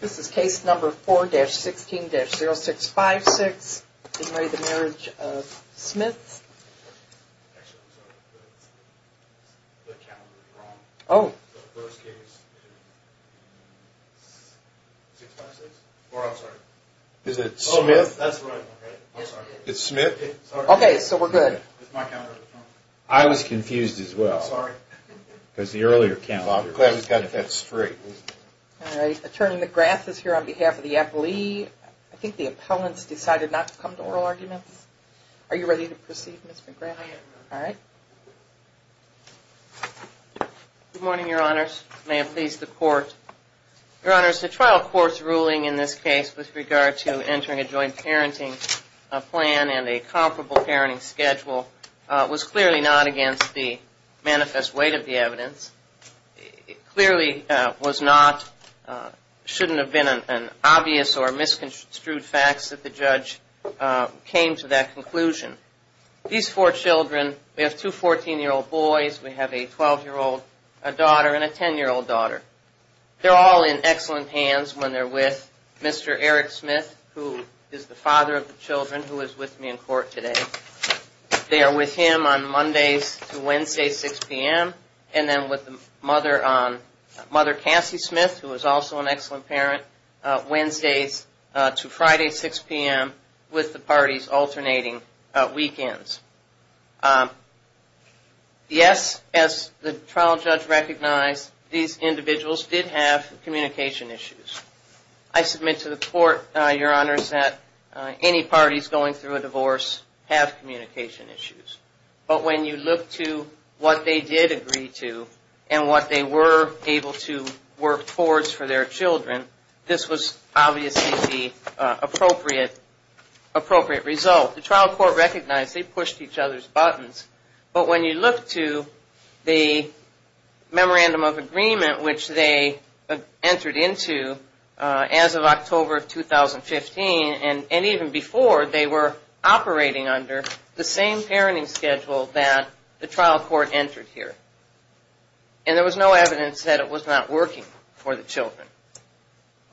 This is case number 4-16-0656 in re the Marriage of Smith. Actually I'm sorry, the calendar is wrong. Oh. The first case is 656. Or I'm sorry. Is it Smith? That's right. I'm sorry. It's Smith? Okay, so we're good. It's my calendar that's wrong. I was confused as well. I'm sorry. Because the earlier calendar was. Well I'm glad we've got that straight. All right. Attorney McGrath is here on behalf of the appellee. I think the appellants decided not to come to oral arguments. Are you ready to proceed, Ms. McGrath? I am. All right. Good morning, your honors. May it please the court. Your honors, the trial court's ruling in this case with regard to entering a judgment and a joint parenting plan and a comparable parenting schedule was clearly not against the manifest weight of the evidence. It clearly was not, shouldn't have been an obvious or misconstrued facts that the judge came to that conclusion. These four children, we have two 14-year-old boys, we have a 12-year-old daughter, and a 10-year-old daughter. They're all in excellent hands when they're with Mr. Eric Smith, who is the father of the children, who is with me in court today. They are with him on Mondays to Wednesdays, 6 p.m., and then with the mother on Mother Cassie Smith, who is also an excellent parent, Wednesdays to Friday, 6 p.m., with the parties alternating weekends. Yes, as the trial judge recognized, these individuals did have communication issues. I submit to the court, your honors, that any parties going through a divorce have communication issues. But when you look to what they did agree to and what they were able to work towards for their children, this was obviously the appropriate result. The trial court recognized they pushed each other's buttons. But when you look to the memorandum of agreement, which they entered into as of October of 2015, and even before, they were operating under the same parenting schedule that the trial court entered here. And there was no evidence that it was not working for the children.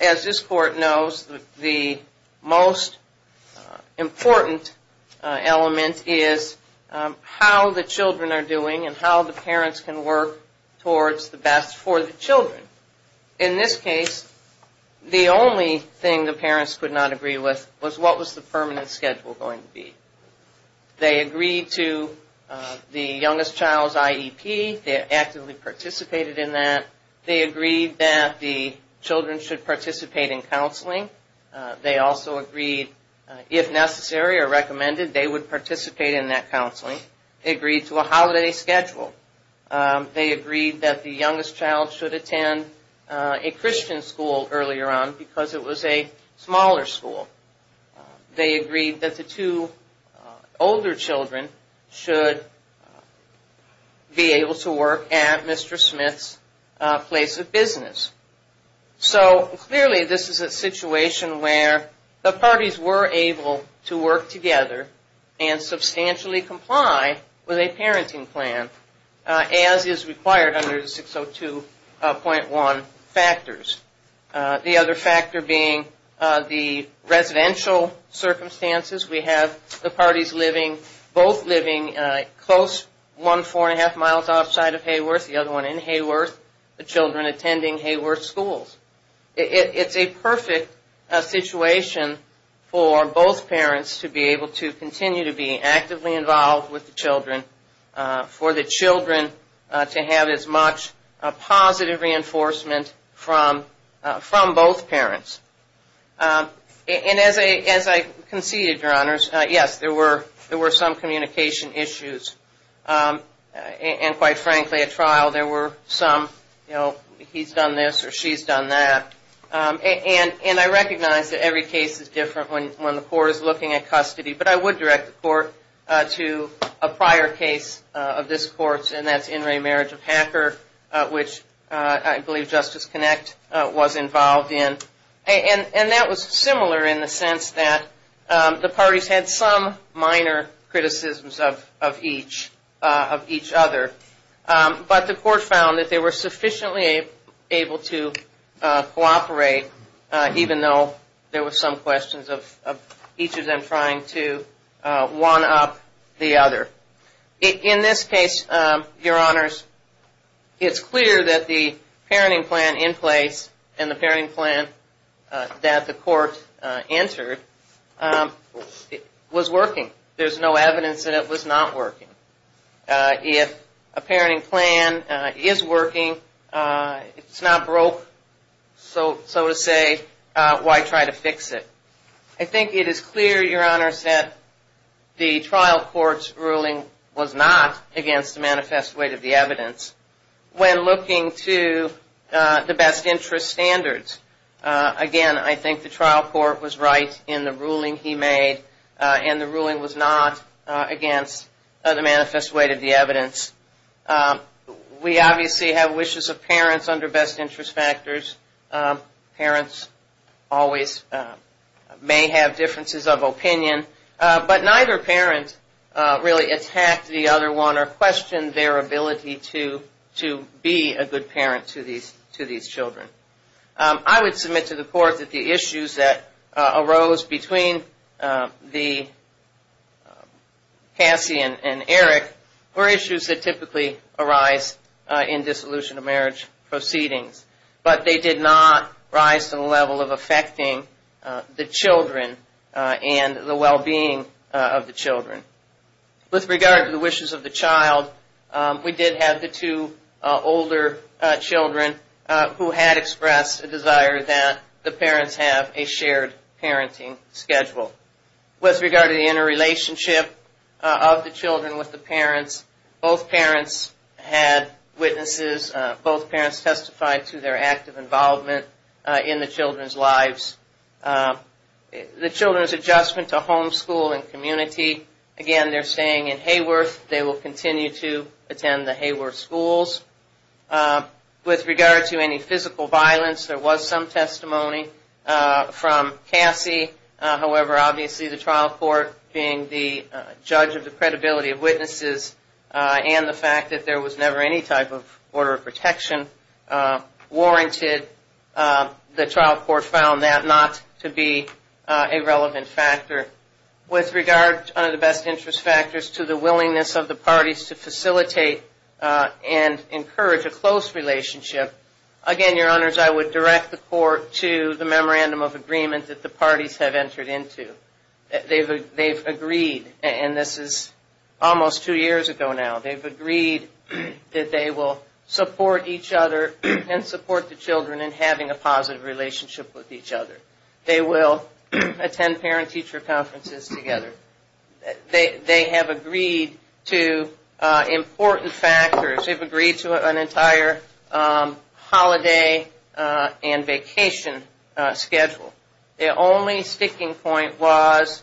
As this court knows, the most important element is how the children are doing and how the parents can work towards the best for the children. In this case, the only thing the parents could not agree with was what was the permanent schedule going to be. They agreed to the youngest child's IEP. They actively participated in that. They agreed that the children should participate in counseling. They also agreed, if necessary or recommended, they would participate in that counseling. They agreed to a holiday schedule. They agreed that the youngest child should attend a Christian school earlier on because it was a smaller school. They agreed that the two older children should be able to work at Mr. Smith's place of business. So, clearly this is a situation where the parties were able to work together and substantially comply with a parenting plan, as is required under the 602.1 factors. The other factor being the residential circumstances. We have the parties both living close, one four and a half miles outside of Hayworth, the other one in Hayworth, the children attending Hayworth schools. It's a perfect situation for both parents to be able to continue to be actively involved with the children, for the children to have as much positive reinforcement from both parents. And as I conceded, Your Honors, yes, there were some communication issues. And quite frankly, at trial, there were some, you know, he's done this or she's done that. And I recognize that every case is different when the court is looking at custody, but I would direct the court to a prior case of this court, and that's In re Marriage of Hacker, which I believe Justice Connect was involved in. And that was similar in the sense that the parties had some minor criticisms of each other, but the court found that they were sufficiently able to cooperate, even though there were some questions of each of them trying to one-up the other. In this case, Your Honors, it's clear that the parenting plan in place and the parenting plan that the court entered was working. There's no evidence that it was not working. If a parenting plan is working, it's not broke, so to say, why try to fix it? I think it is clear, Your Honors, that the trial court's ruling was not against the manifest weight of the evidence. When looking to the best interest standards, again, I think the trial court was right in the ruling he made, and the ruling was not against the manifest weight of the evidence. We obviously have wishes of parents under best interest factors. Parents always may have differences of opinion, but neither parent really attacked the other one or questioned their ability to be a good parent to these children. I would submit to the court that the issues that arose between Cassie and Eric were issues that typically arise in dissolution of marriage proceedings, but they did not rise to the level of affecting the children and the well-being of the children. With regard to the wishes of the child, we did have the two older children who had expressed a desire that the parents have a shared parenting schedule. With regard to the interrelationship of the children with the parents, both parents had witnesses. Both parents testified to their active involvement in the children's lives. The children's adjustment to homeschool and community, again, they're staying in Hayworth. They will continue to attend the Hayworth schools. With regard to any physical violence, there was some testimony from Cassie. However, obviously the trial court, being the judge of the credibility of witnesses and the fact that there was never any type of order of protection warranted, the trial court found that not to be a relevant factor. With regard to the best interest factors to the willingness of the parties to facilitate and encourage a close relationship, again, Your Honors, I would direct the court to the memorandum of agreement that the parties have entered into. They've agreed, and this is almost two years ago now, they've agreed that they will support each other and support the children in having a positive relationship with each other. They will attend parent-teacher conferences together. They have agreed to important factors. They've agreed to an entire holiday and vacation schedule. The only sticking point was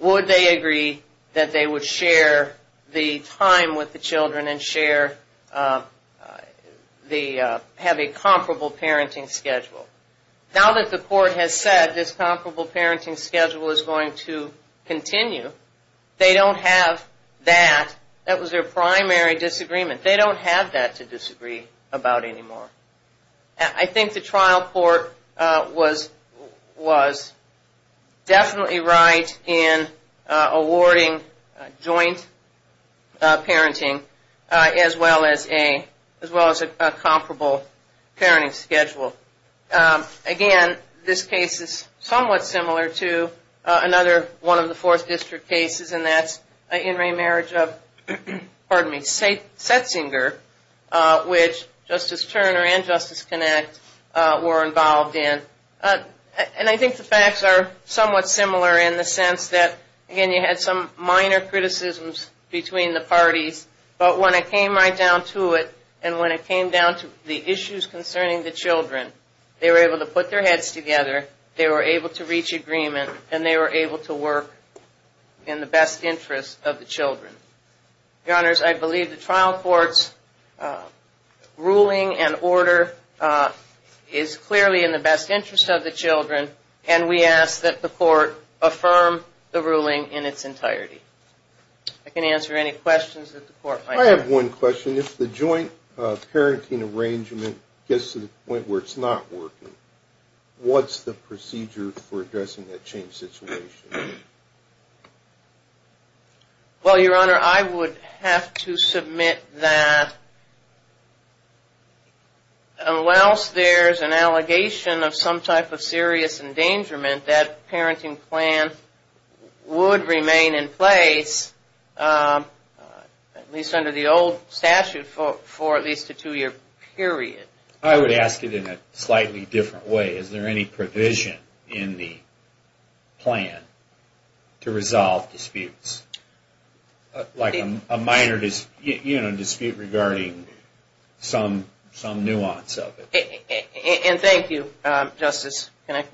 would they agree that they would share the time with the children and have a comparable parenting schedule. Now that the court has said this comparable parenting schedule is going to continue, they don't have that. That was their primary disagreement. They don't have that to disagree about anymore. I think the trial court was definitely right in awarding joint parenting as well as a comparable parenting schedule. Again, this case is somewhat similar to another one of the Fourth District cases, and that's in remarriage of, pardon me, Setzinger, which Justice Turner and Justice Kinect were involved in. And I think the facts are somewhat similar in the sense that, again, they had some minor criticisms between the parties, but when it came right down to it and when it came down to the issues concerning the children, they were able to put their heads together, they were able to reach agreement, and they were able to work in the best interest of the children. Your Honors, I believe the trial court's ruling and order is clearly in the best interest of the children, and we ask that the court affirm the ruling in its entirety. I can answer any questions that the court might have. I have one question. If the joint parenting arrangement gets to the point where it's not working, what's the procedure for addressing that changed situation? Well, Your Honor, I would have to submit that unless there's an allegation of some type of serious endangerment, that parenting plan would remain in place, at least under the old statute, for at least a two-year period. I would ask it in a slightly different way. Is there any provision in the plan to resolve disputes? Like a minor dispute regarding some nuance of it. And thank you, Justice Connick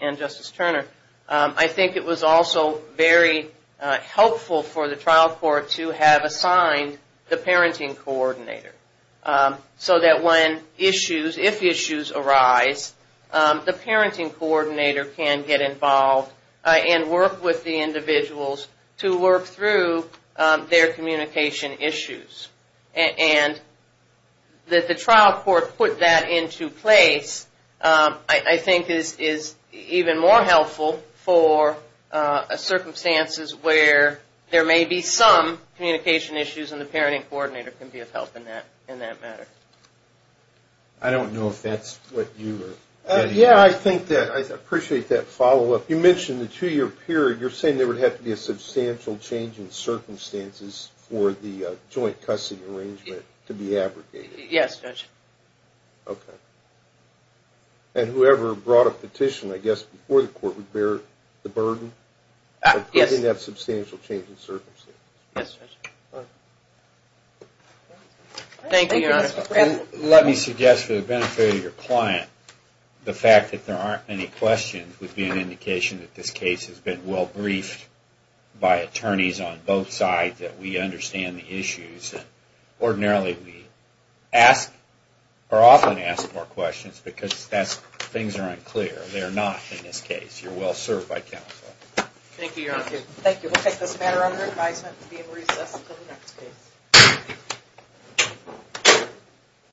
and Justice Turner. I think it was also very helpful for the trial court to have assigned the parenting coordinator so that when issues, if issues arise, the parenting coordinator can get involved and work with the individuals to work through their communication issues. And that the trial court put that into place I think is even more helpful for circumstances where there may be some communication issues, and the parenting coordinator can be of help in that matter. I don't know if that's what you were getting at. Yeah, I think that. I appreciate that follow-up. You mentioned the two-year period. You're saying there would have to be a substantial change in circumstances for the joint custody arrangement to be abrogated. Yes, Judge. Okay. And whoever brought a petition, I guess, before the court would bear the burden? Yes. Putting that substantial change in circumstances. Yes, Judge. All right. Thank you, Your Honor. Let me suggest for the benefit of your client, the fact that there aren't any questions would be an indication that this case has been well-briefed by attorneys on both sides, that we understand the issues. And ordinarily we ask or often ask more questions because things are unclear. They're not in this case. You're well-served by counsel. Thank you, Your Honor. Thank you. We'll take this matter under advisement and be in recess until the next case.